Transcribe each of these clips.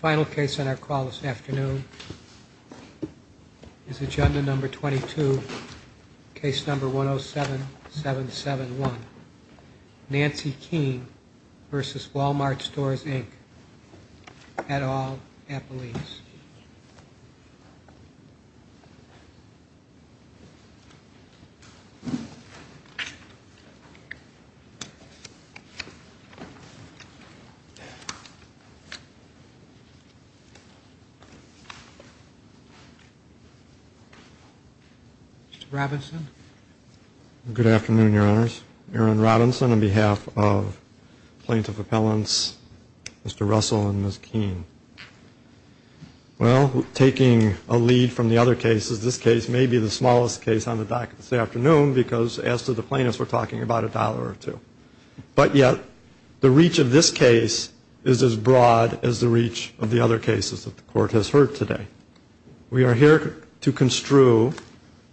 Final case on our call this afternoon is agenda number 22, case number 107-771. Nancy Kean v. Wal-Mart Stores, Inc., et al., Appalachia. Mr. Robinson. Good afternoon, Your Honors. Aaron Robinson on behalf of Plaintiff Appellants, Mr. Russell and Ms. Kean. Well, taking a lead from the other cases, this case may be the smallest case on the docket this afternoon because as to the plaintiffs, we're talking about a dollar or two. But yet, the reach of this case is as broad as the reach of the other cases that the Court has heard today. We are here to construe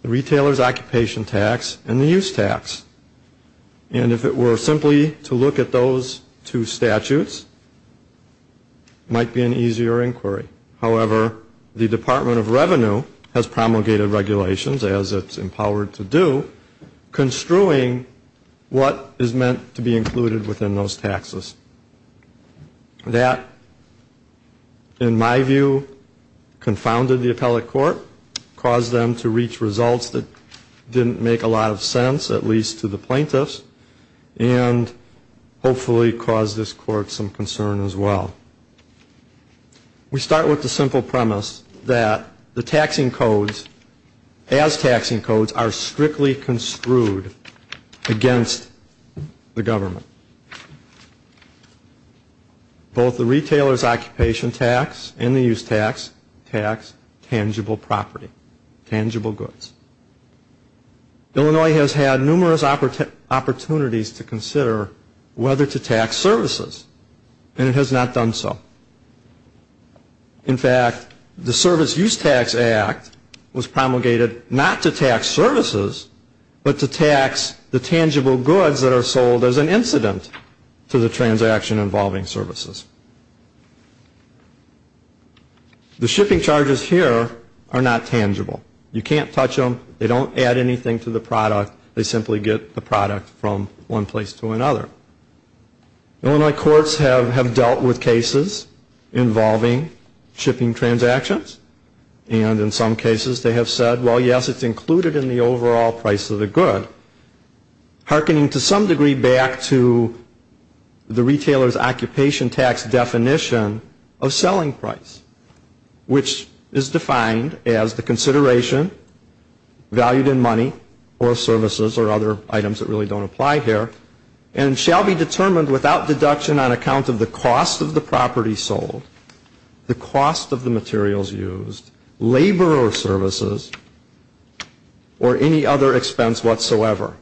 the Retailer's Occupation Tax and the Use Tax. And if it were simply to look at those two statutes, it might be an easier inquiry. However, the Department of Revenue has promulgated regulations, as it's empowered to do, construing what is meant to be included within those taxes. That, in my view, confounded the Appellate Court, caused them to reach results that didn't make a lot of sense, at least to the plaintiffs, and hopefully caused this Court some concern as well. We start with the simple premise that the taxing codes, as taxing codes, are strictly construed against the government. Both the Retailer's Occupation Tax and the Use Tax tax tangible property, tangible goods. Illinois has had numerous opportunities to consider whether to tax services, and it has not done so. In fact, the Service Use Tax Act was promulgated not to tax services, but to tax the tangible goods that are sold as an incident to the transaction involving services. The shipping charges here are not tangible. You can't touch them, they don't add anything to the product, they simply get the product from one place to another. Illinois courts have dealt with cases involving shipping transactions, and in some cases they have said, well, yes, it's included in the overall price of the good. Harkening to some degree back to the Retailer's Occupation Tax definition of selling price, which is defined as the consideration, valued in money, or services, or other items that really don't apply here, and shall be determined without deduction on account of the cost of the property sold, the cost of the materials used, labor or services, or any other expense whatsoever.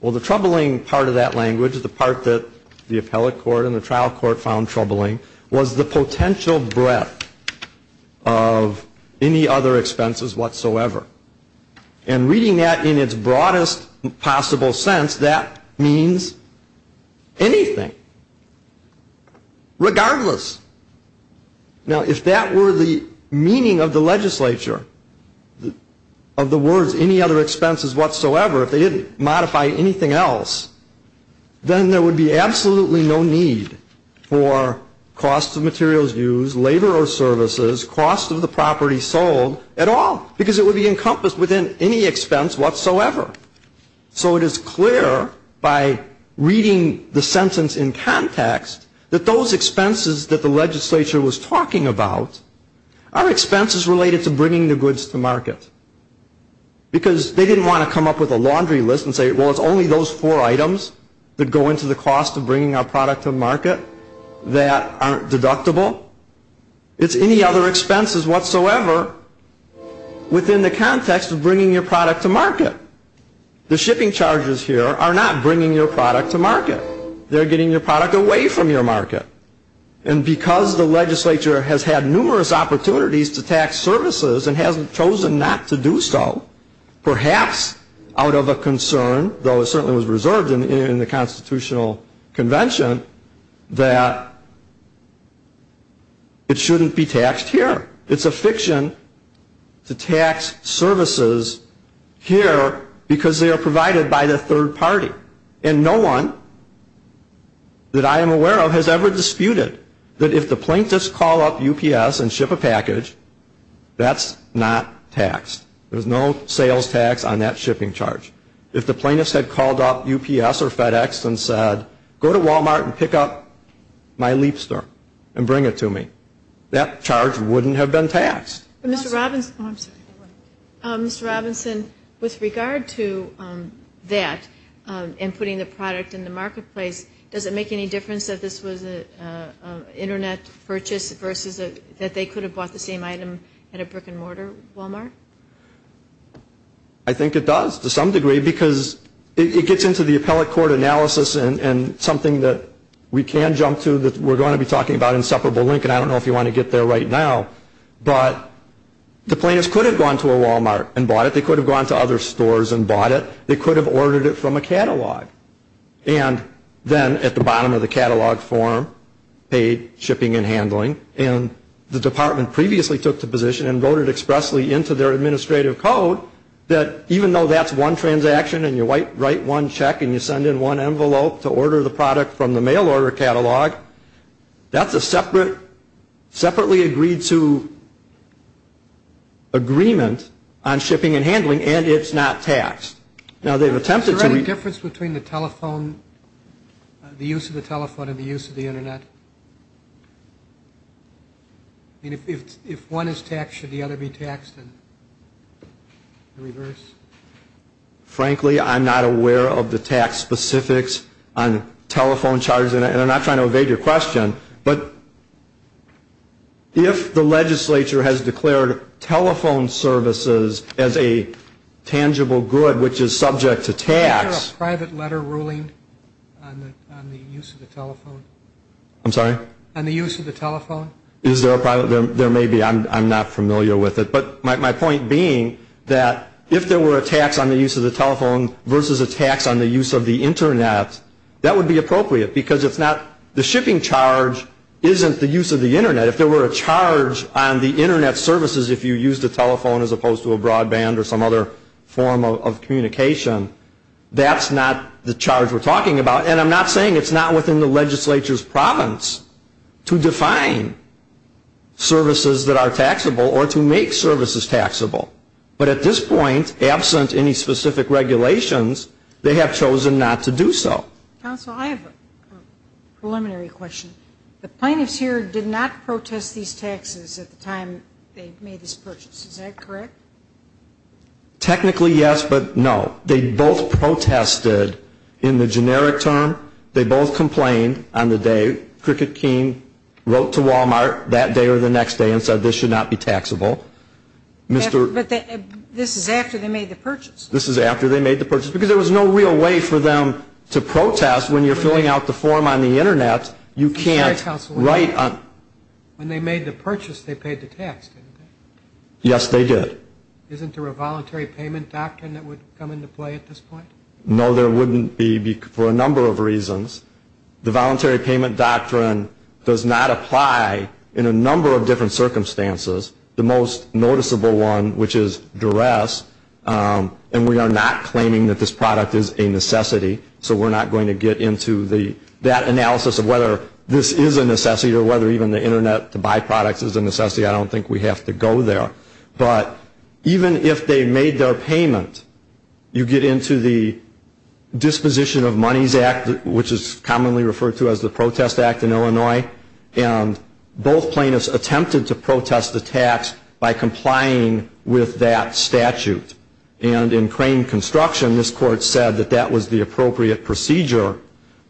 Well, the troubling part of that language, the part that the appellate court and the trial court found troubling, was the potential breadth of any other expenses whatsoever. And reading that in its broadest possible sense, that means anything, regardless. Now, if that were the meaning of the legislature, of the words, any other expenses whatsoever, if they didn't modify anything else, then there would be absolutely no need for cost of materials used, labor or services, cost of the property sold, at all. Because it would be encompassed within any expense whatsoever. So it is clear, by reading the sentence in context, that those expenses that the legislature was talking about are expenses related to bringing the goods to market. Because they didn't want to come up with a laundry list and say, well, it's only those four items that go into the cost of bringing our product to market that aren't deductible. It's any other expenses whatsoever within the context of bringing your product to market. The shipping charges here are not bringing your product to market. They're getting your product away from your market. And because the legislature has had numerous opportunities to tax services and hasn't chosen not to do so, perhaps out of a concern, though it certainly was reserved in the Constitutional Convention, that it shouldn't be taxed here. It's a fiction to tax services here because they are provided by the third party. And no one that I am aware of has ever disputed that if the plaintiffs call up UPS and ship a package, that's not taxed. There's no sales tax on that shipping charge. If the plaintiffs had called up UPS or FedEx and said, go to Walmart and pick up my Leapster and bring it to me, that charge wouldn't have been charged. It wouldn't have been taxed. Ms. Robinson, with regard to that and putting the product in the marketplace, does it make any difference that this was an Internet purchase versus that they could have bought the same item at a brick and mortar Walmart? I think it does to some degree because it gets into the appellate court analysis and something that we can jump to that we're going to be talking about in separable link, and I don't know if you want to get there right now. But the plaintiffs could have gone to a Walmart and bought it. They could have gone to other stores and bought it. They could have ordered it from a catalog. And then at the bottom of the catalog form, paid, shipping, and handling, and the department previously took the position and wrote it expressly into their administrative code, that even though that's one transaction and you write one check and you send in one envelope to order the product from the mail order catalog, that's a separately agreed to agreement on shipping and handling, and it's not taxed. Is there any difference between the telephone, the use of the telephone and the use of the Internet? If one is taxed, should the other be taxed in reverse? Frankly, I'm not aware of the tax specifics on telephone charges. And I'm not trying to evade your question, but if the legislature has declared telephone services as a tangible good, which is subject to tax. Is there a private letter ruling on the use of the telephone? I'm sorry? If there were a tax on the use of the telephone versus a tax on the use of the Internet, that would be appropriate, because the shipping charge isn't the use of the Internet. If there were a charge on the Internet services if you used a telephone as opposed to a broadband or some other form of communication, that's not the charge we're talking about. And I'm not saying it's not within the legislature's province to define services that are taxable or to make services taxable. But at this point, absent any specific regulations, they have chosen not to do so. Counsel, I have a preliminary question. The plaintiffs here did not protest these taxes at the time they made this purchase. Is that correct? Technically, yes, but no. They both protested in the generic term. They both complained on the day. Cricket King wrote to Walmart that day or the next day and said this should not be taxable. But this is after they made the purchase. This is after they made the purchase, because there was no real way for them to protest when you're filling out the form on the Internet. When they made the purchase, they paid the tax, didn't they? Yes, they did. Isn't there a voluntary payment doctrine that would come into play at this point? No, there wouldn't be for a number of reasons. The voluntary payment doctrine does not apply in a number of different circumstances. The most noticeable one, which is duress, and we are not claiming that this product is a necessity, so we're not going to get into that analysis of whether this is a necessity or whether even the Internet to buy products is a necessity. I don't think we have to go there. But even if they made their payment, you get into the Disposition of Monies Act, which is commonly referred to as the Protest Act in Illinois, and both plaintiffs attempted to protest the tax by complying with that statute. And in Crane Construction, this Court said that that was the appropriate procedure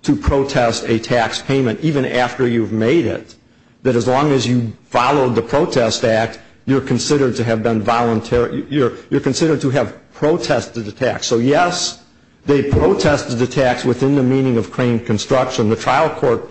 to protest a tax payment, even after you've made it, that as long as you followed the Protest Act, so yes, they protested the tax within the meaning of Crane Construction. The trial court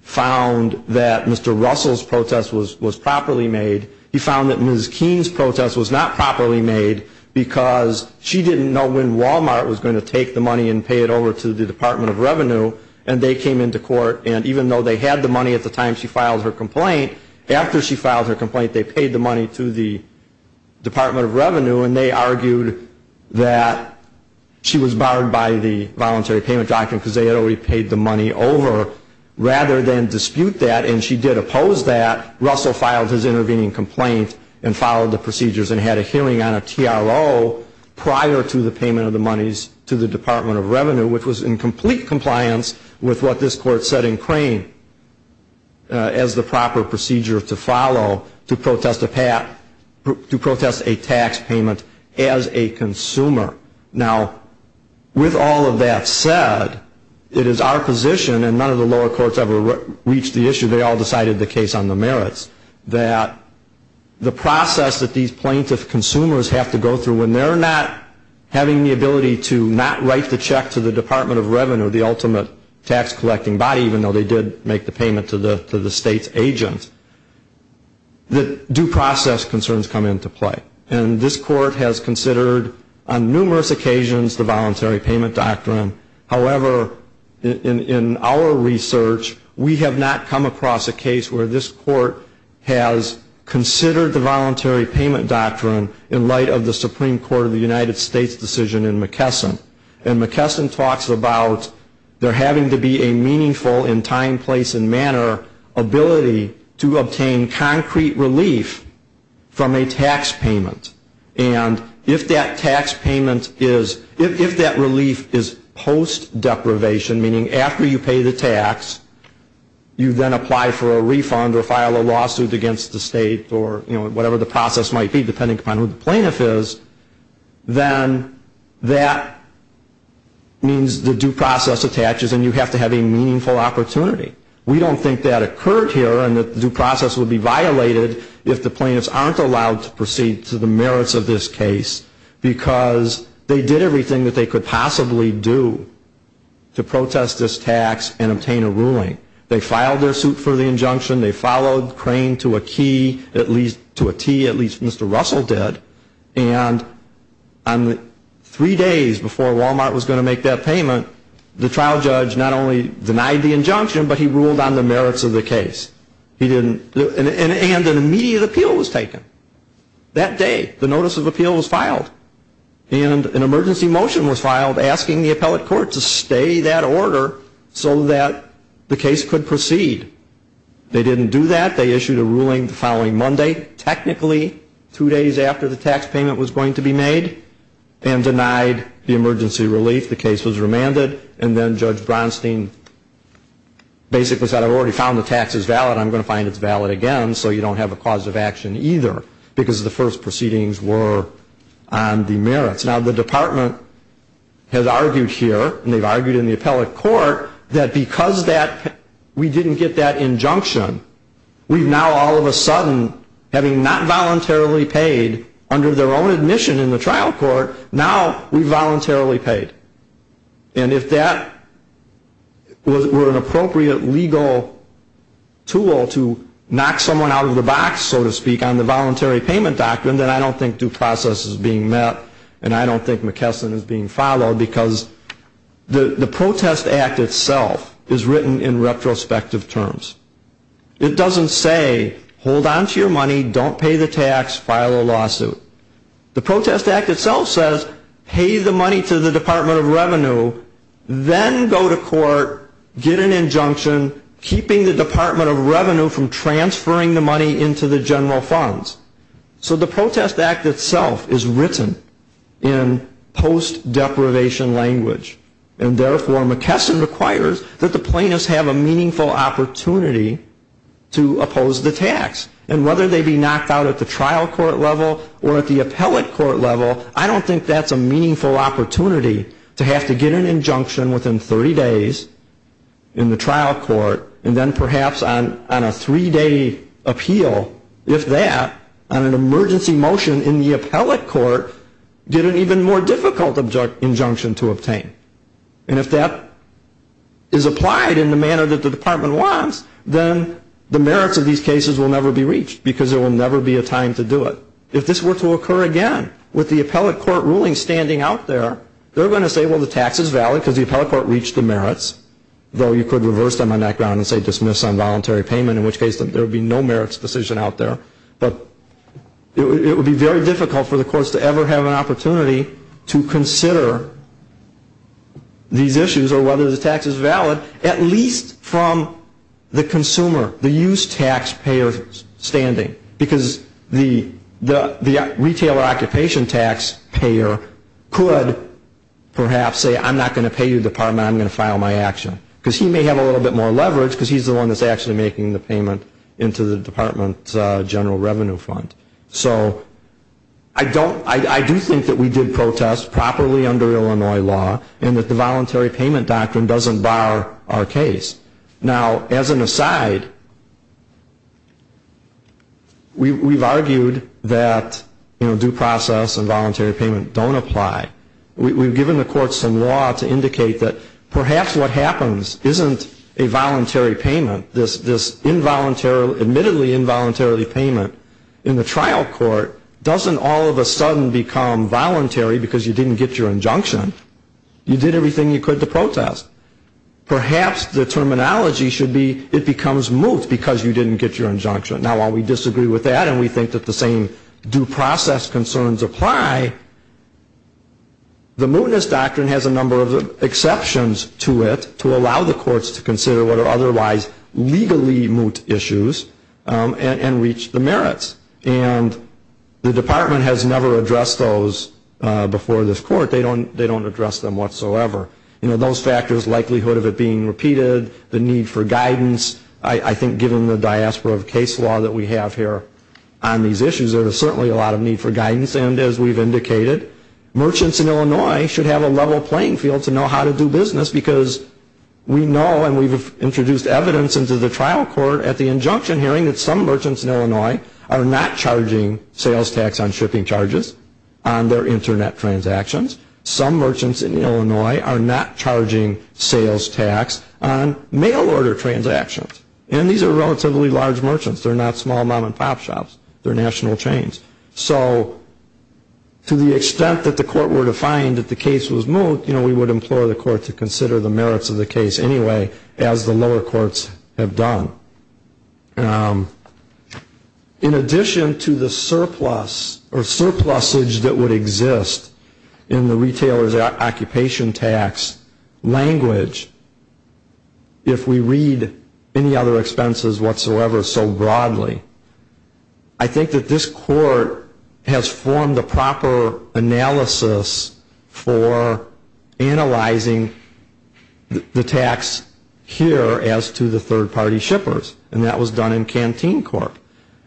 found that Mr. Russell's protest was properly made. He found that Ms. Keene's protest was not properly made, because she didn't know when Walmart was going to take the money and pay it over to the Department of Revenue, and they came into court, and even though they had the money at the time she filed her complaint, after she filed her complaint, they paid the money to the Department of Revenue, and they argued that she was barred by the Voluntary Payment Doctrine, because they had already paid the money over. Rather than dispute that, and she did oppose that, Russell filed his intervening complaint and followed the procedures and had a hearing on a TRO prior to the payment of the monies to the Department of Revenue, which was in complete compliance with what this court said in Crane, as the proper procedure to follow to protest a tax payment as a consumer. Now, with all of that said, it is our position, and none of the lower courts ever reached the issue, they all decided the case on the merits, that the process that these plaintiff consumers have to go through, when they're not having the ability to not write the check to the Department of Revenue, the ultimate tax collecting body, even though they did make the payment to the state's agent, that due process concerns come into play. And this court has considered on numerous occasions the Voluntary Payment Doctrine. However, in our research, we have not come across a case where this court has considered the Voluntary Payment Doctrine in light of the Supreme Court of the United States decision in McKesson. And McKesson talks about there having to be a meaningful, in time, place, and manner, ability to obtain concrete relief from a tax payment. And if that tax payment is, if that relief is post-deprivation, meaning after you pay the tax, you then apply for a refund or file a lawsuit against the state, or whatever the process might be, depending upon who the plaintiff is, then that means the due process attaches and you have to have a meaningful opportunity. We don't think that occurred here and that the due process would be violated if the plaintiffs aren't allowed to proceed to the merits of this case, because they did everything that they could possibly do to protest this tax and obtain a ruling. They filed their suit for the injunction. They followed Crane to a T, at least Mr. Russell did. And three days before Wal-Mart was going to make that payment, the trial judge not only denied the injunction, but he ruled on the merits of the case. And an immediate appeal was taken. That day, the notice of appeal was filed. And an emergency motion was filed asking the appellate court to stay that order so that the case could proceed. They didn't do that. They issued a ruling the following Monday, technically two days after the tax payment was going to be made, and denied the emergency relief. The case was remanded, and then Judge Bronstein basically said, I've already found the tax is valid, I'm going to find it's valid again, so you don't have a cause of action either, because the first proceedings were on the merits. Now, the department has argued here, and they've argued in the appellate court, that because we didn't get that injunction, we've now all of a sudden, having not voluntarily paid under their own admission in the trial court, now we've voluntarily paid. And if that were an appropriate legal tool to knock someone out of the box, so to speak, on the voluntary payment doctrine, then I don't think due process is being met, and I don't think McKesson is being followed, because the protest act itself is written in retrospective terms. It doesn't say, hold on to your money, don't pay the tax, file a lawsuit. The protest act itself says, pay the money to the Department of Revenue, then go to court, get an injunction, keeping the Department of Revenue from transferring the money into the general funds. So the protest act itself is written in post deprivation language, and therefore McKesson requires that the plaintiffs have a meaningful opportunity to oppose the tax. And whether they be knocked out at the trial court level or at the appellate court level, I don't think that's a meaningful opportunity to have to get an injunction within 30 days in the trial court, and then perhaps on a three-day appeal, if that, on an emergency motion in the appellate court, get an even more difficult injunction to obtain. And if that is applied in the manner that the department wants, then the merits of these cases will never be reached, because there will never be a time to do it. If this were to occur again, with the appellate court ruling standing out there, they're going to say, well, the tax is valid, because the appellate court reached the merits, though you could reverse them on that ground and say dismiss on voluntary payment, in which case there would be no merits decision out there. But it would be very difficult for the courts to ever have an opportunity to consider these issues or whether the tax is valid, at least from the consumer, the used taxpayer's standing, because the retail or occupation taxpayer could perhaps say, I'm not going to pay you, department, I'm going to file my action, because he may have a little bit more leverage, because he's the one that's actually making the payment into the department's general revenue fund. So I do think that we did protest properly under Illinois law, and that the voluntary payment doctrine doesn't bar our case. Now, as an aside, we've argued that due process and voluntary payment don't apply. We've given the courts some law to indicate that perhaps what happens isn't a voluntary payment. This admittedly involuntary payment in the trial court doesn't all of a sudden become voluntary because you didn't get your injunction. You did everything you could to protest. Perhaps the terminology should be it becomes moot because you didn't get your injunction. Now, while we disagree with that and we think that the same due process concerns apply, the mootness doctrine has a number of exceptions to it to allow the courts to consider what are otherwise legally moot issues and reach the merits. And the department has never addressed those before this court. They don't address them whatsoever. You know, those factors, likelihood of it being repeated, the need for guidance, I think given the diaspora of case law that we have here on these issues, there is certainly a lot of need for guidance. And as we've indicated, merchants in Illinois should have a level playing field to know how to do business because we know and we've introduced evidence into the trial court at the injunction hearing that some merchants in Illinois are not charging sales tax on shipping charges on their Internet transactions. Some merchants in Illinois are not charging sales tax on mail order transactions. And these are relatively large merchants. They're not small mom and pop shops. They're national chains. So to the extent that the court were to find that the case was moot, you know, we would implore the court to consider the merits of the case anyway, as the lower courts have done. In addition to the surplus or surplusage that would exist in the retailer's occupation tax language, if we read any other expenses whatsoever so broadly, I think that this court has formed a proper analysis for analyzing the tax here as to the third-party shippers. And that was done in canteen court.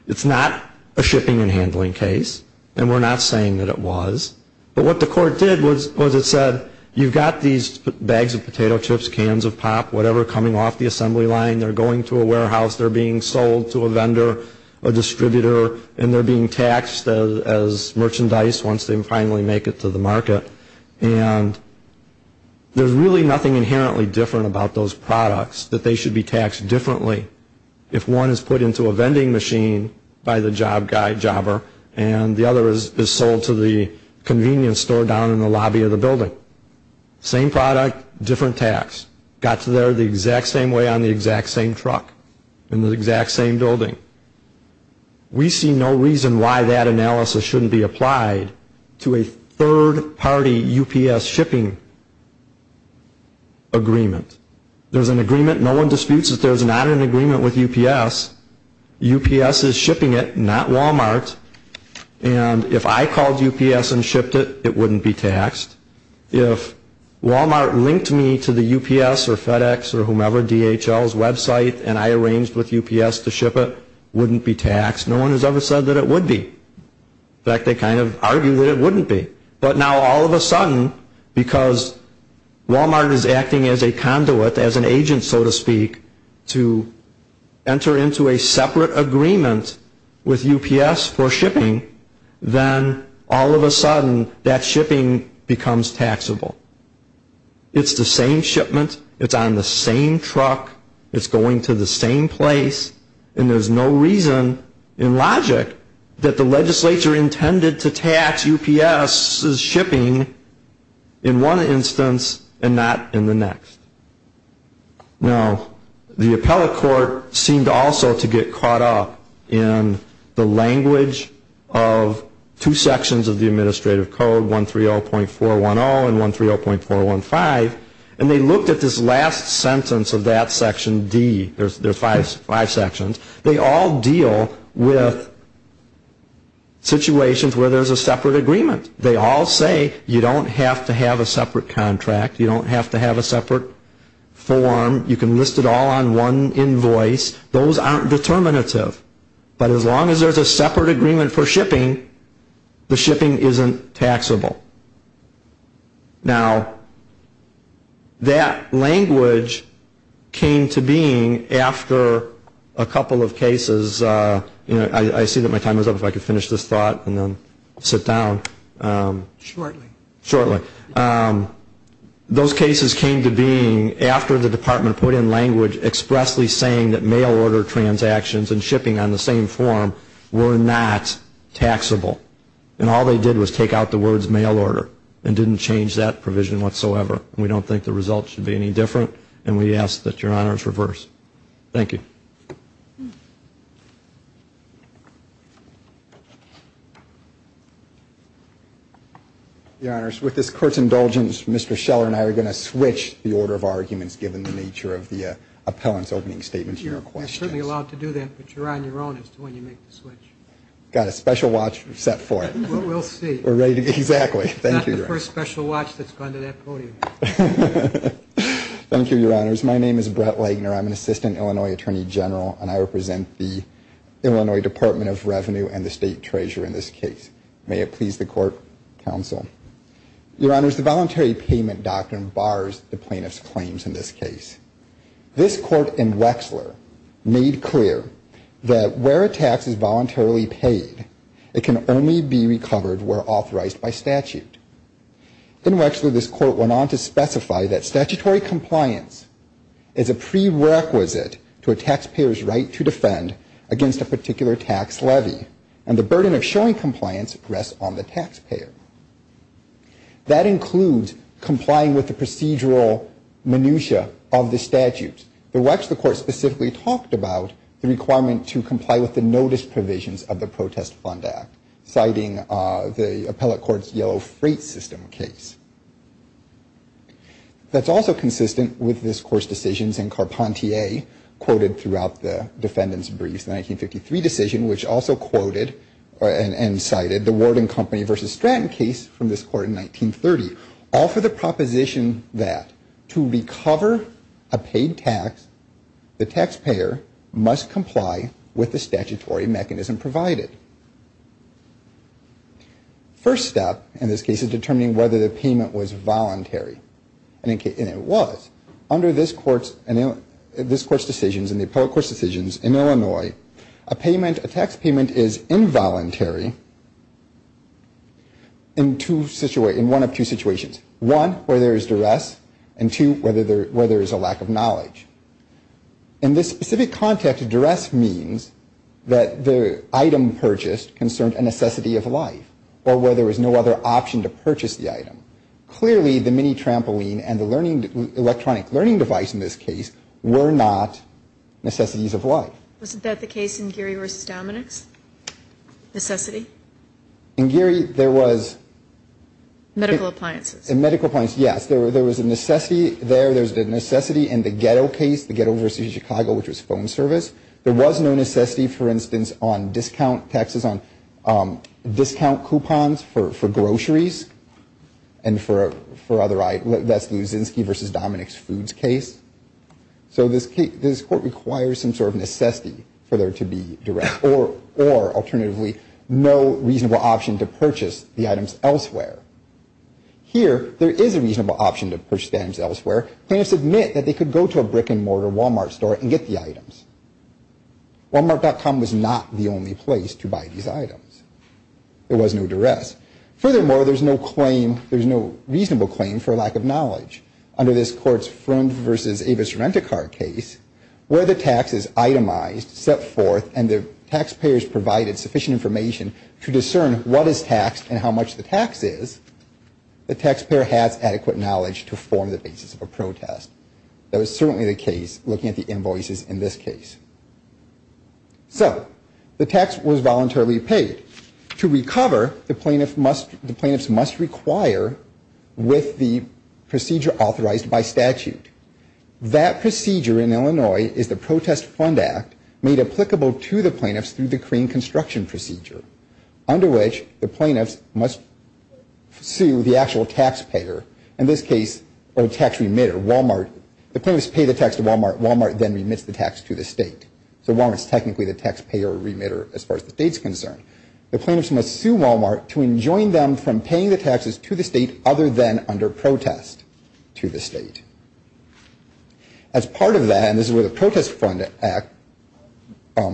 It's not a shipping and handling case, and we're not saying that it was. But what the court did was it said you've got these bags of potato chips, cans of pop, whatever coming off the assembly line, they're going to a warehouse, they're being sold to a vendor, a distributor, and they're being taxed as merchandise once they finally make it to the market. And there's really nothing inherently different about those products that they should be taxed differently if one is put into a vending machine by the job guy, jobber, and the other is sold to the convenience store down in the lobby of the building. So same product, different tax. Got to there the exact same way on the exact same truck in the exact same building. We see no reason why that analysis shouldn't be applied to a third-party UPS shipping agreement. There's an agreement. No one disputes that there's not an agreement with UPS. UPS is shipping it, not Walmart. And if I called UPS and shipped it, it wouldn't be taxed. If Walmart linked me to the UPS or FedEx or whomever, DHL's website, and I arranged with UPS to ship it, it wouldn't be taxed. No one has ever said that it would be. In fact, they kind of argue that it wouldn't be. But now all of a sudden, because Walmart is acting as a conduit, as an agent so to speak, to enter into a separate agreement with UPS for shipping, then all of a sudden that shipping becomes taxable. It's the same shipment. It's on the same truck. It's going to the same place. And there's no reason in logic that the legislature intended to tax UPS' shipping in one instance and not in the next. Now, the appellate court seemed also to get caught up in the language of two sections of the Administrative Code, 130.410 and 130.415. And they looked at this last sentence of that Section D. There are five sections. They all deal with situations where there's a separate agreement. They all say you don't have to have a separate contract. You don't have to have a separate form. You can list it all on one invoice. Those aren't determinative. But as long as there's a separate agreement for shipping, the shipping isn't taxable. Now, that language came to being after a couple of cases. I see that my time is up. If I could finish this thought and then sit down. Shortly. Shortly. Those cases came to being after the Department put in language expressly saying that mail order transactions and shipping on the same form were not taxable. And all they did was take out the words mail order and didn't change that provision whatsoever. We don't think the results should be any different. And we ask that Your Honors reverse. Thank you. Your Honors, with this Court's indulgence, Mr. Scheller and I are going to switch the order of arguments given the nature of the appellant's opening statement to your questions. You're certainly allowed to do that, but you're on your own as to when you make the switch. Got a special watch set for it. We'll see. Exactly. Not the first special watch that's gone to that podium. Thank you, Your Honors. My name is Brett Lagner. I'm an Assistant Illinois Attorney General, and I represent the Illinois Department of Revenue and the State Treasurer in this case. May it please the Court, Counsel. Your Honors, the voluntary payment doctrine bars the plaintiff's claims in this case. This Court in Wexler made clear that where a tax is voluntarily paid, it can only be recovered where authorized by statute. In Wexler, this Court went on to specify that statutory compliance is a prerequisite to a taxpayer's right to defend against a particular tax levy, and the burden of showing compliance rests on the taxpayer. That includes complying with the procedural minutia of the statute. In Wexler, the Court specifically talked about the requirement to comply with the notice provisions of the Protest Fund Act, citing the appellate court's Yellow Freight System case. That's also consistent with this Court's decisions in Carpentier, quoted throughout the defendant's briefs, the 1953 decision, which also quoted and cited the Ward and Company v. Stratton case from this Court in 1930, all for the proposition that to recover a paid tax, the taxpayer must comply with the statutory mechanism provided. First step in this case is determining whether the payment was voluntary, and it was. Under this Court's decisions and the appellate court's decisions in Illinois, a tax payment is involuntary in one of two situations. One, where there is duress, and two, where there is a lack of knowledge. In this specific context, duress means that the item purchased concerned a necessity of life, or where there was no other option to purchase the item. Clearly, the mini trampoline and the electronic learning device in this case were not necessities of life. Wasn't that the case in Geary v. Dominick's necessity? In Geary, there was... Medical appliances. In medical appliances, yes. There was a necessity there. There was a necessity in the ghetto case, the Ghetto v. Chicago, which was phone service. There was no necessity, for instance, on discount taxes, on discount coupons for groceries, and for other items. That's the Uzinski v. Dominick's foods case. So this Court requires some sort of necessity for there to be duress, or alternatively, no reasonable option to purchase the items elsewhere. Here, there is a reasonable option to purchase the items elsewhere. Plaintiffs admit that they could go to a brick-and-mortar Walmart store and get the items. Walmart.com was not the only place to buy these items. There was no duress. Furthermore, there's no claim, there's no reasonable claim for lack of knowledge. Under this Court's Freund v. Avis Rent-A-Car case, where the tax is itemized, set forth, and the taxpayers provided sufficient information to discern what is taxed and how much the tax is, the taxpayer has adequate knowledge to form the basis of a protest. That was certainly the case, looking at the invoices in this case. So, the tax was voluntarily paid. To recover, the plaintiffs must require, with the procedure authorized by statute. That procedure in Illinois is the Protest Fund Act, made applicable to the plaintiffs through the Korean Construction Procedure, under which the plaintiffs must sue the actual taxpayer. In this case, a tax remitter, Walmart. The plaintiffs pay the tax to Walmart. Walmart then remits the tax to the state. So, Walmart is technically the taxpayer remitter as far as the state is concerned. The plaintiffs must sue Walmart to enjoin them from paying the taxes to the state other than under protest to the state. As part of that, and this is where the Protest Fund Act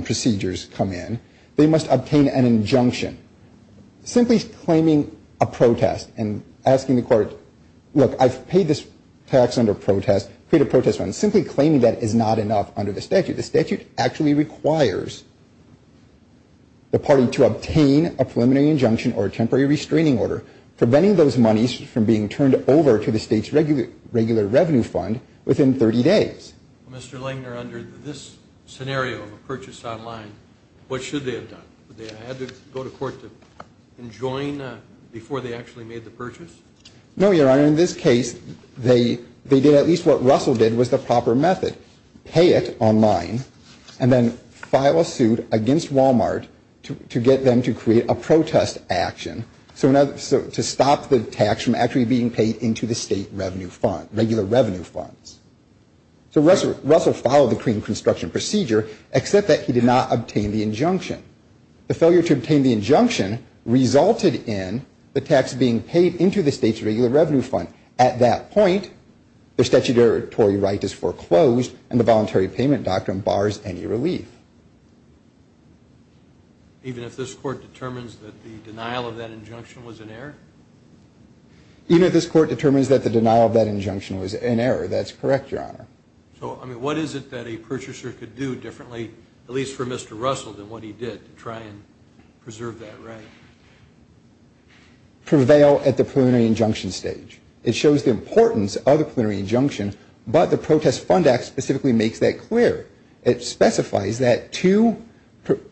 procedures come in, they must obtain an injunction. Simply claiming a protest and asking the court, look, I've paid this tax under protest, paid a protest fund. Simply claiming that is not enough under the statute. The statute actually requires the party to obtain a preliminary injunction or a temporary restraining order, preventing those monies from being turned over to the state's regular revenue fund within 30 days. Mr. Langner, under this scenario of a purchase online, what should they have done? Would they have had to go to court to enjoin before they actually made the purchase? No, Your Honor. In this case, they did at least what Russell did was the proper method. Pay it online and then file a suit against Walmart to get them to create a protest action to stop the tax from actually being paid into the state revenue fund, regular revenue funds. So Russell followed the clean construction procedure, except that he did not obtain the injunction. The failure to obtain the injunction resulted in the tax being paid into the state's regular revenue fund. At that point, the statutory right is foreclosed and the voluntary payment doctrine bars any relief. Even if this court determines that the denial of that injunction was an error? Even if this court determines that the denial of that injunction was an error, that's correct. So what is it that a purchaser could do differently, at least for Mr. Russell, than what he did to try and preserve that right? Prevail at the preliminary injunction stage. It shows the importance of the preliminary injunction, but the Protest Fund Act specifically makes that clear. It specifies that to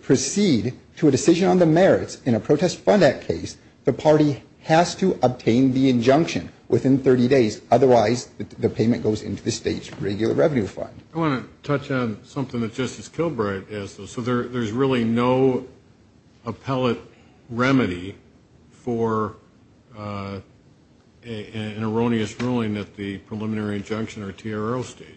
proceed to a decision on the merits in a Protest Fund Act case, the party has to obtain the injunction within 30 days. Otherwise, the payment goes into the state's regular revenue fund. I want to touch on something that Justice Kilbright asked us. So there's really no appellate remedy for an erroneous ruling at the preliminary injunction or TRL stage?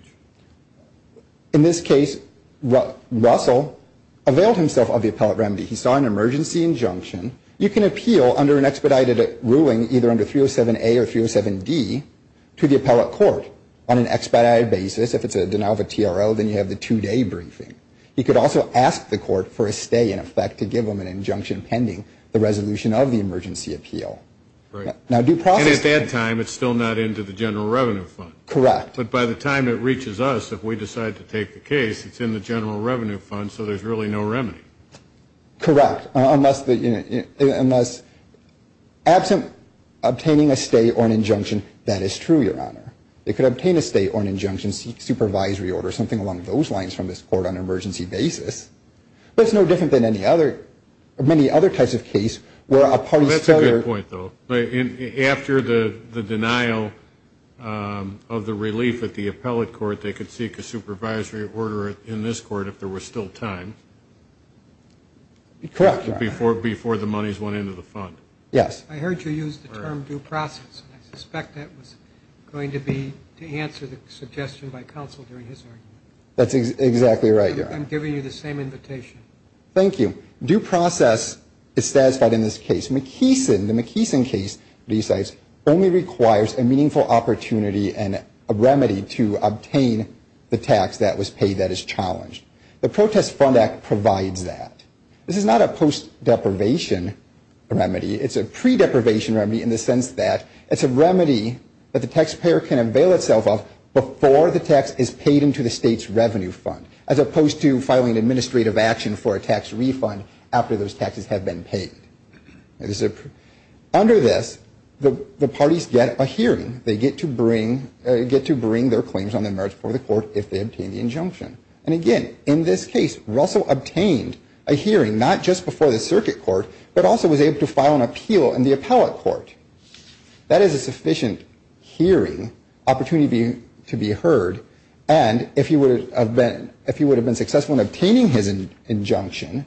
In this case, Russell availed himself of the appellate remedy. He saw an emergency injunction. You can appeal under an expedited ruling, either under 307A or 307D, to the appellate court on an expedited basis. If it's a denial of a TRL, then you have the two-day briefing. You could also ask the court for a stay, in effect, to give them an injunction pending the resolution of the emergency appeal. Right. And at that time, it's still not into the general revenue fund. Correct. But by the time it reaches us, if we decide to take the case, it's in the general revenue fund, so there's really no remedy. Correct. Unless absent obtaining a stay or an injunction, that is true, Your Honor. They could obtain a stay or an injunction, seek a supervisory order, something along those lines from this court on an emergency basis. But it's no different than many other types of case where a party's failure- That's a good point, though. After the denial of the relief at the appellate court, they could seek a supervisory order in this court if there was still time. Correct. Before the monies went into the fund. Yes. I heard you use the term due process, and I suspect that was going to be to answer the suggestion by counsel during his argument. That's exactly right, Your Honor. I'm giving you the same invitation. Thank you. Due process is satisfied in this case. McKeeson, the McKeeson case, only requires a meaningful opportunity and a remedy to obtain the tax that was paid that is challenged. The Protest Fund Act provides that. This is not a post-deprivation remedy. It's a pre-deprivation remedy in the sense that it's a remedy that the taxpayer can avail itself of before the tax is paid into the state's revenue fund, as opposed to filing an administrative action for a tax refund after those taxes have been paid. Under this, the parties get a hearing. They get to bring their claims on the merits before the court if they obtain the injunction. And again, in this case, Russell obtained a hearing not just before the circuit court, but also was able to file an appeal in the appellate court. That is a sufficient hearing, opportunity to be heard. And if he would have been successful in obtaining his injunction,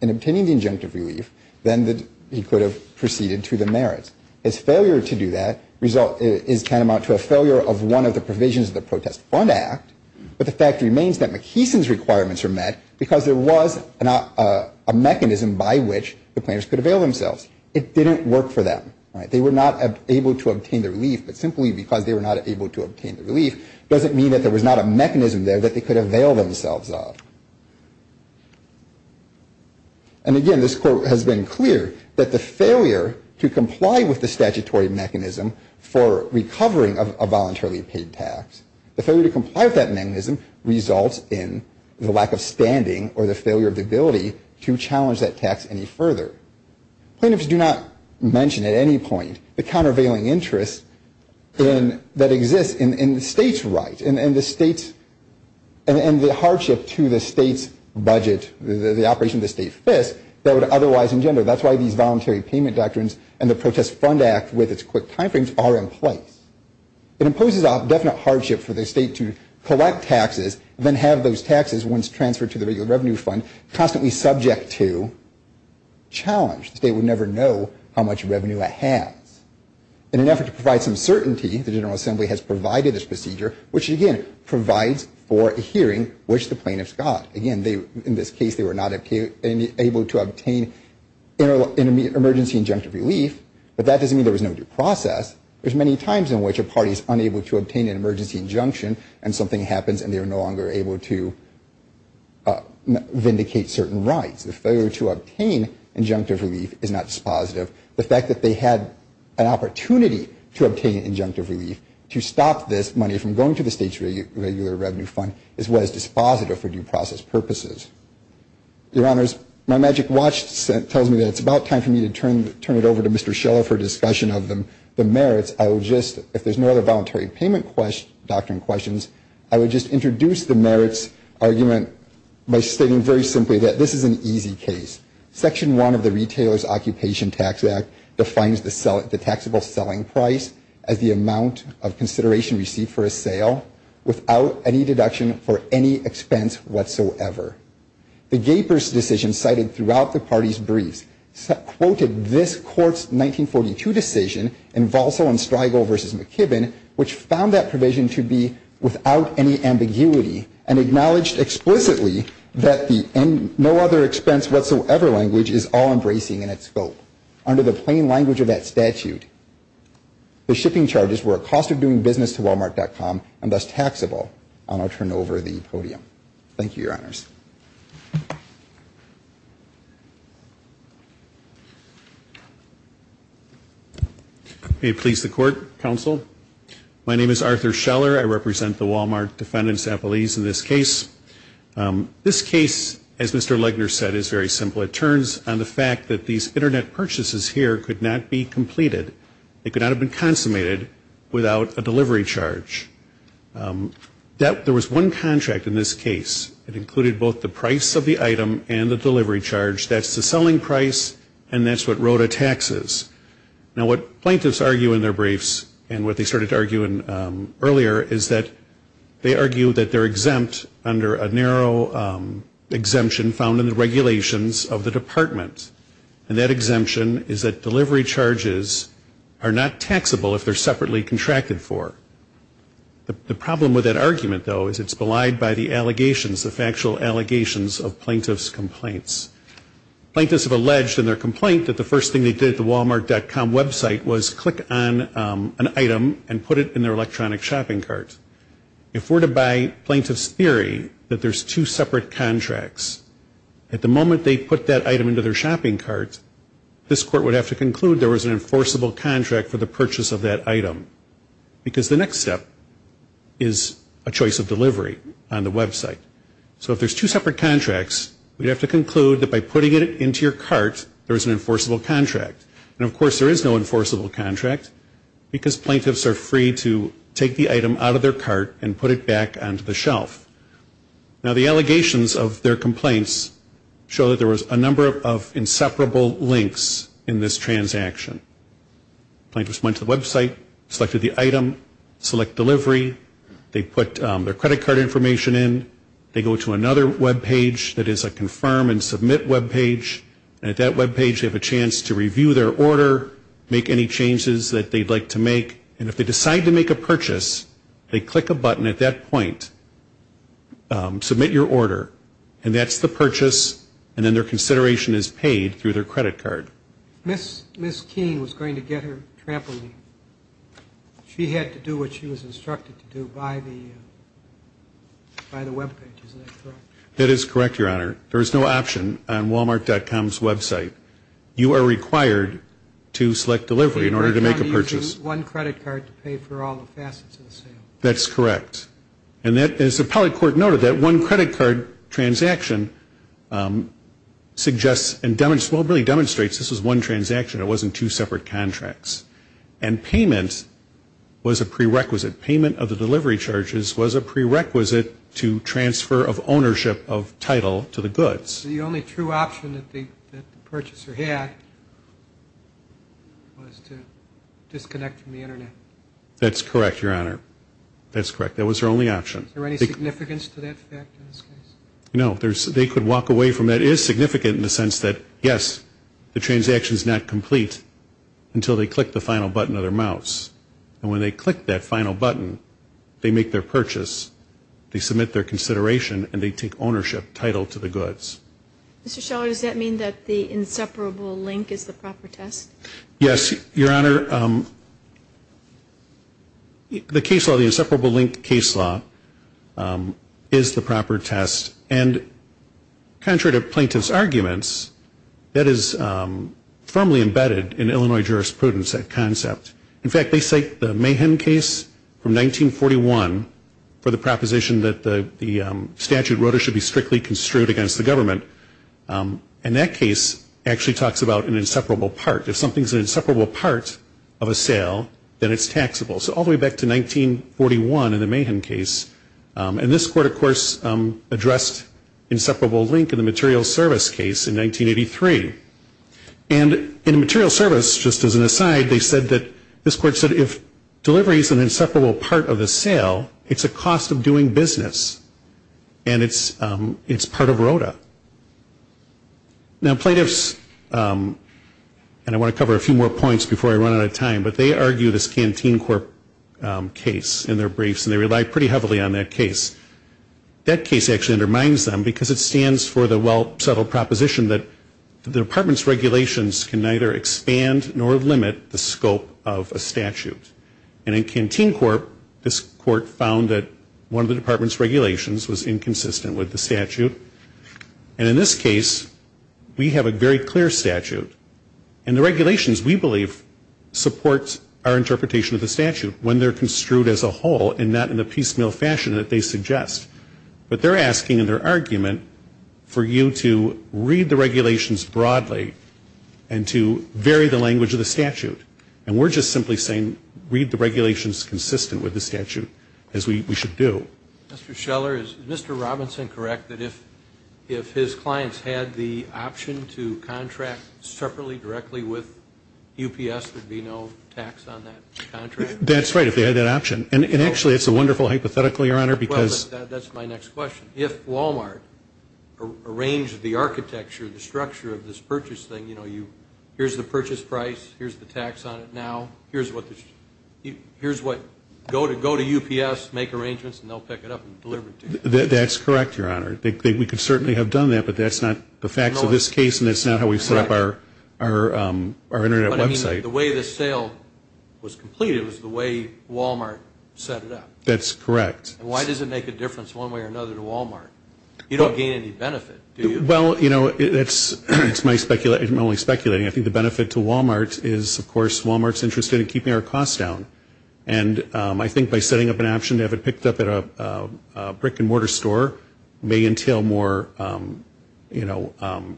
in obtaining the injunctive relief, then he could have proceeded to the merits. His failure to do that is tantamount to a failure of one of the provisions of the Protest Fund Act. But the fact remains that McKeeson's requirements are met because there was a mechanism by which the plaintiffs could avail themselves. It didn't work for them. They were not able to obtain the relief. But simply because they were not able to obtain the relief doesn't mean that there was not a mechanism there that they could avail themselves of. And again, this court has been clear that the failure to comply with the statutory mechanism for recovering a voluntarily paid tax, the failure to comply with that mechanism results in the lack of standing or the failure of the ability to challenge that tax any further. Plaintiffs do not mention at any point the countervailing interest that exists in the state's right and the hardship to the state's budget, the operation of the state FISC, that would otherwise engender. That's why these voluntary payment doctrines and the Protest Fund Act with its quick timeframes are in place. It imposes a definite hardship for the state to collect taxes and then have those taxes, once transferred to the Revenue Fund, constantly subject to challenge. The state would never know how much revenue it has. In an effort to provide some certainty, the General Assembly has provided this procedure, which, again, provides for hearing which the plaintiffs got. Again, in this case, they were not able to obtain an emergency injunctive relief, but that doesn't mean there was no due process. There's many times in which a party is unable to obtain an emergency injunction and something happens and they are no longer able to vindicate certain rights. The failure to obtain injunctive relief is not dispositive. The fact that they had an opportunity to obtain injunctive relief to stop this money from going to the state's regular Revenue Fund is what is dispositive for due process purposes. Your Honors, my magic watch tells me that it's about time for me to turn it over to Mr. Schiller for discussion of the merits. I will just, if there's no other voluntary payment doctrine questions, I would just introduce the merits argument by stating very simply that this is an easy case. Section 1 of the Retailer's Occupation Tax Act defines the taxable selling price as the amount of consideration received for a sale without any deduction for any expense whatsoever. The Gaper's decision cited throughout the party's briefs quoted this court's 1942 decision in Valso and Streigel v. McKibbin, which found that provision to be without any ambiguity and acknowledged explicitly that no other expense whatsoever language is all-embracing in its scope under the plain language of that statute. The shipping charges were a cost of doing business to Walmart.com and thus taxable. I'll now turn over the podium. Thank you, Your Honors. May it please the Court, Counsel. My name is Arthur Schiller. I represent the Walmart Defendant's Appellees in this case. This case, as Mr. Legner said, is very simple. It turns on the fact that these Internet purchases here could not be completed. They could not have been consummated without a delivery charge. There was one contract in this case. It included both the price of the item and the delivery charge. That's the selling price and that's what wrote a taxes. Now, what plaintiffs argue in their briefs and what they started to argue earlier is that they argue that they're exempt under a And that exemption is that delivery charges are not taxable if they're separately contracted for. The problem with that argument, though, is it's belied by the allegations, the factual allegations of plaintiffs' complaints. Plaintiffs have alleged in their complaint that the first thing they did at the Walmart.com website was click on an item and put it in their electronic shopping cart. If we're to buy plaintiffs' theory that there's two separate contracts, at the moment they put that item into their shopping cart, this court would have to conclude there was an enforceable contract for the purchase of that item because the next step is a choice of delivery on the website. So if there's two separate contracts, we'd have to conclude that by putting it into your cart, there is an enforceable contract. And, of course, there is no enforceable contract because plaintiffs are free to take the item out of their cart and put it back onto the shelf. Now, the allegations of their complaints show that there was a number of inseparable links in this transaction. Plaintiffs went to the website, selected the item, select delivery. They put their credit card information in. They go to another webpage that is a confirm and submit webpage. And at that webpage, they have a chance to review their order, make any changes that they'd like to make. And if they decide to make a purchase, they click a button at that point, submit your order, and that's the purchase, and then their consideration is paid through their credit card. Ms. Keene was going to get her trampoline. She had to do what she was instructed to do by the webpage, isn't that correct? That is correct, Your Honor. There is no option on walmart.com's website. You are required to select delivery in order to make a purchase. One credit card to pay for all the facets of the sale. That's correct. And as the appellate court noted, that one credit card transaction suggests and really demonstrates this was one transaction. It wasn't two separate contracts. And payment was a prerequisite. Payment of the delivery charges was a prerequisite to transfer of ownership of title to the goods. The only true option that the purchaser had was to disconnect from the internet. That's correct, Your Honor. That's correct. That was their only option. Is there any significance to that fact in this case? No. They could walk away from that. It is significant in the sense that, yes, the transaction is not complete until they click the final button of their mouse. And when they click that final button, they make their purchase, they submit their consideration, and they take ownership, title to the goods. Mr. Sheller, does that mean that the inseparable link is the proper test? Yes, Your Honor. The case law, the inseparable link case law, is the proper test. And contrary to plaintiff's arguments, that is firmly embedded in Illinois jurisprudence, that concept. In fact, they cite the Mahan case from 1941 for the proposition that the statute should be strictly construed against the government. And that case actually talks about an inseparable part. If something is an inseparable part of a sale, then it's taxable. So all the way back to 1941 in the Mahan case. And this court, of course, addressed inseparable link in the materials service case in 1983. And in the materials service, just as an aside, they said that this court said if delivery is an inseparable part of the sale, it's a cost of doing business. And it's part of ROTA. Now, plaintiffs, and I want to cover a few more points before I run out of time, but they argue this Canteen Corp case in their briefs, and they rely pretty heavily on that case. That case actually undermines them because it stands for the well-settled proposition that the department's regulations can neither expand nor limit the scope of a statute. And in Canteen Corp, this court found that one of the department's regulations was inconsistent with the statute. And in this case, we have a very clear statute. And the regulations, we believe, support our interpretation of the statute when they're construed as a whole and not in the piecemeal fashion that they suggest. But they're asking in their argument for you to read the regulations broadly and to vary the language of the statute. And we're just simply saying read the regulations consistent with the statute, as we should do. Mr. Scheller, is Mr. Robinson correct that if his clients had the option to contract separately, directly with UPS, there'd be no tax on that contract? That's right, if they had that option. And actually, it's a wonderful hypothetical, Your Honor, because... Well, that's my next question. If Walmart arranged the architecture, the structure of this purchase thing, you know, here's the purchase price, here's the tax on it now, here's what go to UPS, make arrangements, and they'll pick it up and deliver it to you. That's correct, Your Honor. We could certainly have done that, but that's not the facts of this case, and that's not how we've set up our Internet website. But, I mean, the way this sale was completed was the way Walmart set it up. That's correct. And why does it make a difference one way or another to Walmart? You don't gain any benefit, do you? Well, you know, it's my speculation. I'm only speculating. I think the benefit to Walmart is, of course, Walmart's interested in keeping our costs down. And I think by setting up an option to have it picked up at a brick-and-mortar store may entail more, you know,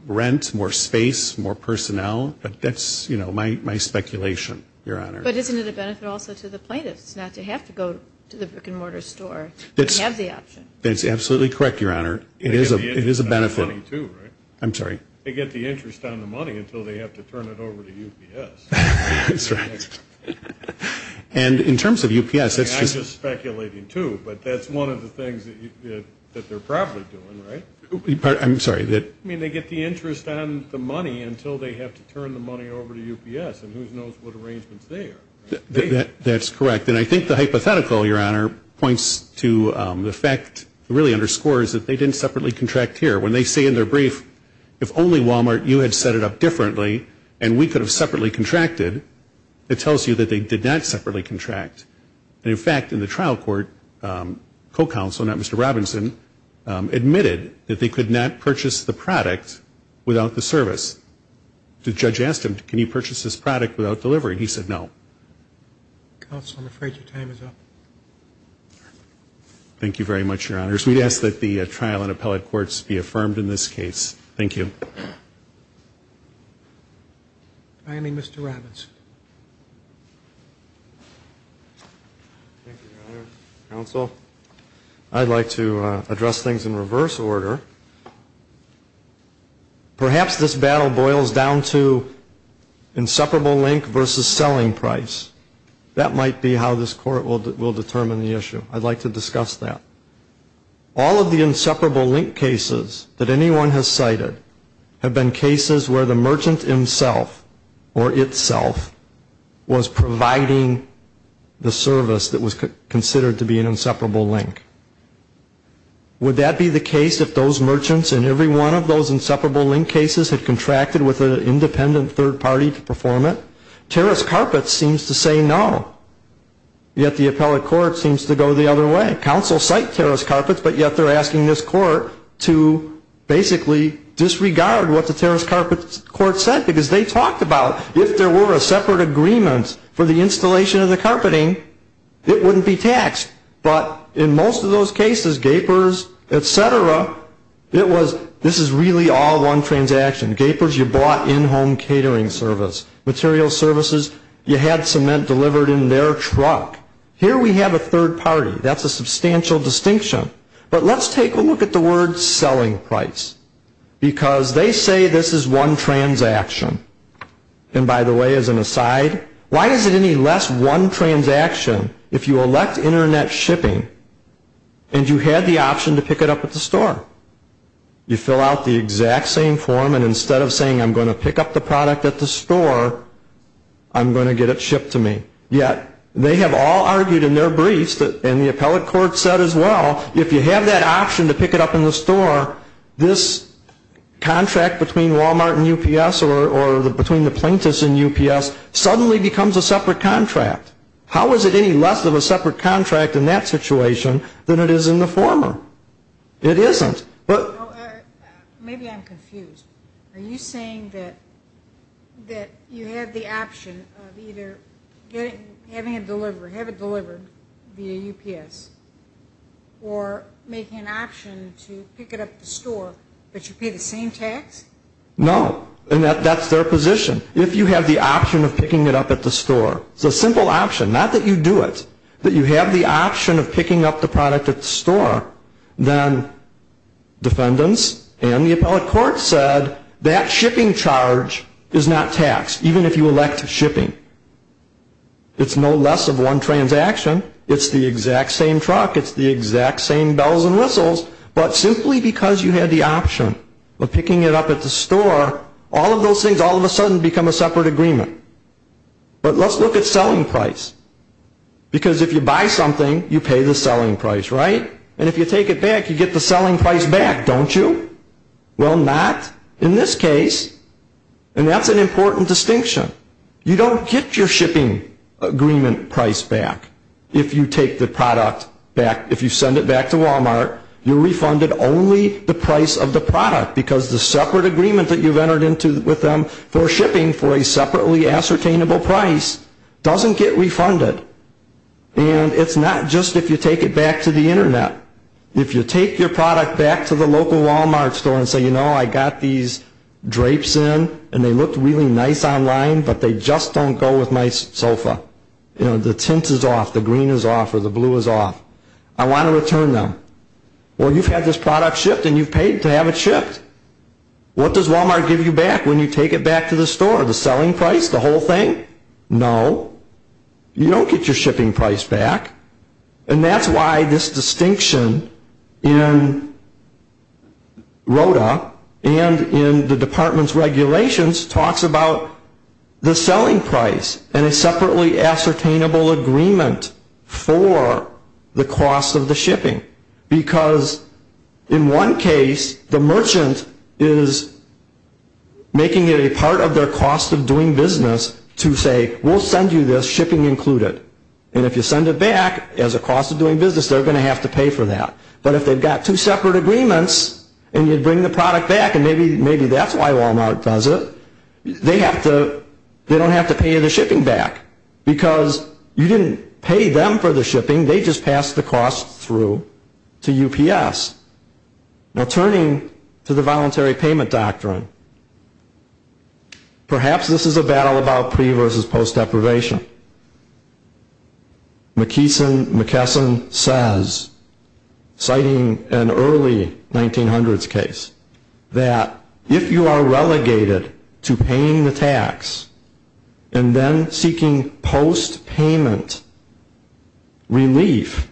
rent, more space, more personnel. But that's, you know, my speculation, Your Honor. But isn't it a benefit also to the plaintiffs not to have to go to the brick-and-mortar store to have the option? That's absolutely correct, Your Honor. It is a benefit. They get the interest on the money, too, right? I'm sorry? They get the interest on the money until they have to turn it over to UPS. That's right. And in terms of UPS, it's just... But that's one of the things that they're probably doing, right? I'm sorry? I mean, they get the interest on the money until they have to turn the money over to UPS. And who knows what arrangements they have? That's correct. And I think the hypothetical, Your Honor, points to the fact, really underscores, that they didn't separately contract here. When they say in their brief, if only Walmart, you had set it up differently and we could have separately contracted, it tells you that they did not separately contract. And, in fact, in the trial court, co-counsel, not Mr. Robinson, admitted that they could not purchase the product without the service. The judge asked him, can you purchase this product without delivering? He said no. Counsel, I'm afraid your time is up. Thank you very much, Your Honors. We ask that the trial and appellate courts be affirmed in this case. Thank you. Finally, Mr. Robinson. Thank you, Your Honor. Counsel, I'd like to address things in reverse order. Perhaps this battle boils down to inseparable link versus selling price. That might be how this court will determine the issue. I'd like to discuss that. All of the inseparable link cases that anyone has cited have been cases where the merchant himself or itself was providing the service that was considered to be an inseparable link. Would that be the case if those merchants in every one of those inseparable link cases had contracted with an independent third party to perform it? Terrace Carpets seems to say no, yet the appellate court seems to go the other way. Counsel cite Terrace Carpets, but yet they're asking this court to basically disregard what the Terrace Carpets court said because they talked about if there were a separate agreement for the installation of the carpeting, it wouldn't be taxed. But in most of those cases, gapers, et cetera, this is really all one transaction. Gapers, you bought in-home catering service. Material services, you had cement delivered in their truck. Here we have a third party. That's a substantial distinction. But let's take a look at the word selling price because they say this is one transaction. And by the way, as an aside, why is it any less one transaction if you elect internet shipping and you had the option to pick it up at the store? You fill out the exact same form and instead of saying I'm going to pick up the product at the store, I'm going to get it shipped to me. Yet they have all argued in their briefs and the appellate court said as well, if you have that option to pick it up in the store, this contract between Walmart and UPS or between the plaintiffs and UPS suddenly becomes a separate contract. How is it any less of a separate contract in that situation than it is in the former? It isn't. Maybe I'm confused. Are you saying that you have the option of either having it delivered via UPS or making an option to pick it up at the store but you pay the same tax? No, and that's their position. If you have the option of picking it up at the store, it's a simple option, not that you do it, but you have the option of picking up the product at the store, then defendants and the appellate court said that shipping charge is not taxed, even if you elect shipping. It's no less of one transaction. It's the exact same truck. It's the exact same bells and whistles. But simply because you had the option of picking it up at the store, all of those things all of a sudden become a separate agreement. But let's look at selling price because if you buy something, you pay the selling price, right? And if you take it back, you get the selling price back, don't you? Well, not in this case. And that's an important distinction. You don't get your shipping agreement price back if you take the product back. If you send it back to Walmart, you're refunded only the price of the product because the separate agreement that you've entered with them for shipping for a separately ascertainable price doesn't get refunded. And it's not just if you take it back to the Internet. If you take your product back to the local Walmart store and say, you know, I got these drapes in and they looked really nice online, but they just don't go with my sofa. The tint is off, the green is off, or the blue is off. I want to return them. Well, you've had this product shipped and you've paid to have it shipped. What does Walmart give you back when you take it back to the store? The selling price, the whole thing? No. You don't get your shipping price back. And that's why this distinction in RODA and in the department's regulations talks about the selling price and a separately ascertainable agreement for the cost of the shipping. Because in one case, the merchant is making it a part of their cost of doing business to say, we'll send you this shipping included. And if you send it back as a cost of doing business, they're going to have to pay for that. But if they've got two separate agreements and you bring the product back, and maybe that's why Walmart does it, they don't have to pay you the shipping back. Because you didn't pay them for the shipping, they just passed the cost through to UPS. Now turning to the voluntary payment doctrine, perhaps this is a battle about pre versus post deprivation. McKesson says, citing an early 1900s case, that if you are relegated to paying the tax and then seeking post payment relief,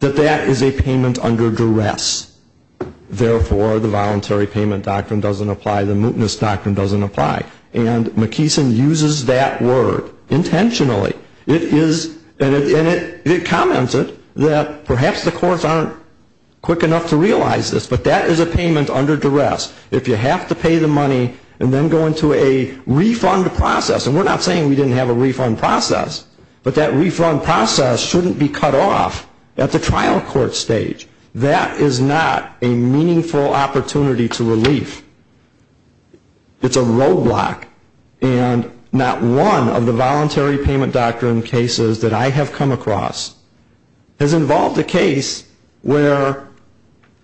that that is a payment under duress. Therefore, the voluntary payment doctrine doesn't apply. The mootness doctrine doesn't apply. And McKesson uses that word intentionally. And it comments that perhaps the courts aren't quick enough to realize this, but that is a payment under duress. If you have to pay the money and then go into a refund process, and we're not saying we didn't have a refund process, but that refund process shouldn't be cut off at the trial court stage. That is not a meaningful opportunity to relief. It's a roadblock. And not one of the voluntary payment doctrine cases that I have come across has involved a case where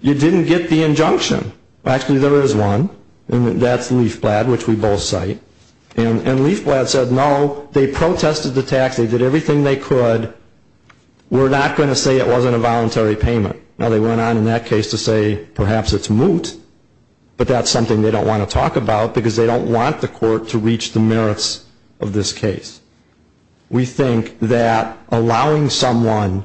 you didn't get the injunction. Actually, there is one, and that's Leafblad, which we both cite. And Leafblad said, no, they protested the tax, they did everything they could, but we're not going to say it wasn't a voluntary payment. Now, they went on in that case to say perhaps it's moot, but that's something they don't want to talk about because they don't want the court to reach the merits of this case. We think that allowing someone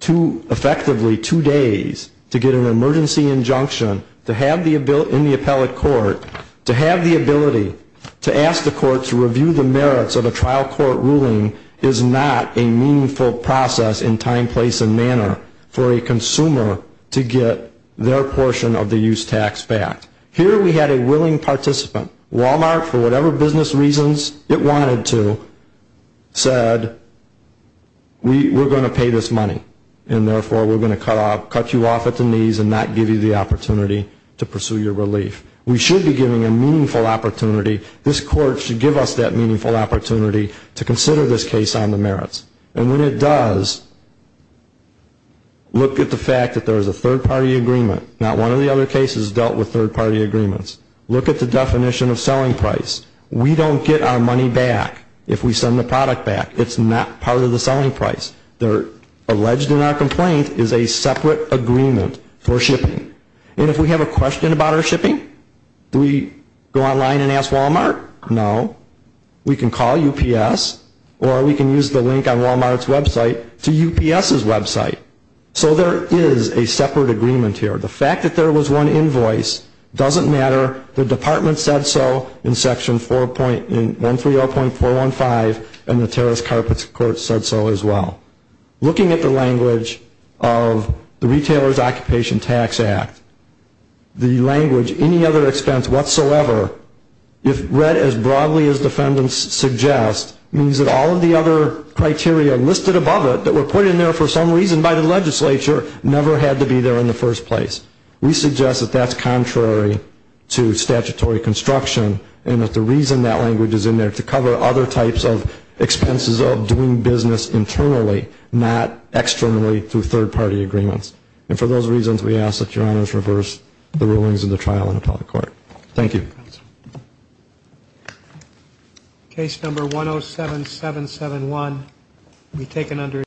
effectively two days to get an emergency injunction in the appellate court, to have the ability to ask the court to review the merits of a trial court ruling is not a meaningful process in time, place and manner for a consumer to get their portion of the use tax back. Here we had a willing participant. Walmart, for whatever business reasons it wanted to, said we're going to pay this money and therefore we're going to cut you off at the knees and not give you the opportunity to pursue your relief. We should be giving a meaningful opportunity. This court should give us that meaningful opportunity to consider this case on the merits. And when it does, look at the fact that there is a third-party agreement. Not one of the other cases dealt with third-party agreements. Look at the definition of selling price. We don't get our money back if we send the product back. It's not part of the selling price. Alleged in our complaint is a separate agreement for shipping. And if we have a question about our shipping, do we go online and ask Walmart? No. We can call UPS or we can use the link on Walmart's website to UPS's website. So there is a separate agreement here. The fact that there was one invoice doesn't matter. The department said so in Section 130.415 and the terrorist carpets court said so as well. Looking at the language of the Retailer's Occupation Tax Act, the language, any other expense whatsoever, if read as broadly as defendants suggest, means that all of the other criteria listed above it that were put in there for some reason by the legislature never had to be there in the first place. We suggest that that's contrary to statutory construction and that the reason that language is in there to cover other types of expenses of doing business internally, not externally through third-party agreements. And for those reasons, we ask that Your Honors reverse the rulings of the trial and appeal the court. Thank you. Case number 107771 will be taken under investigation.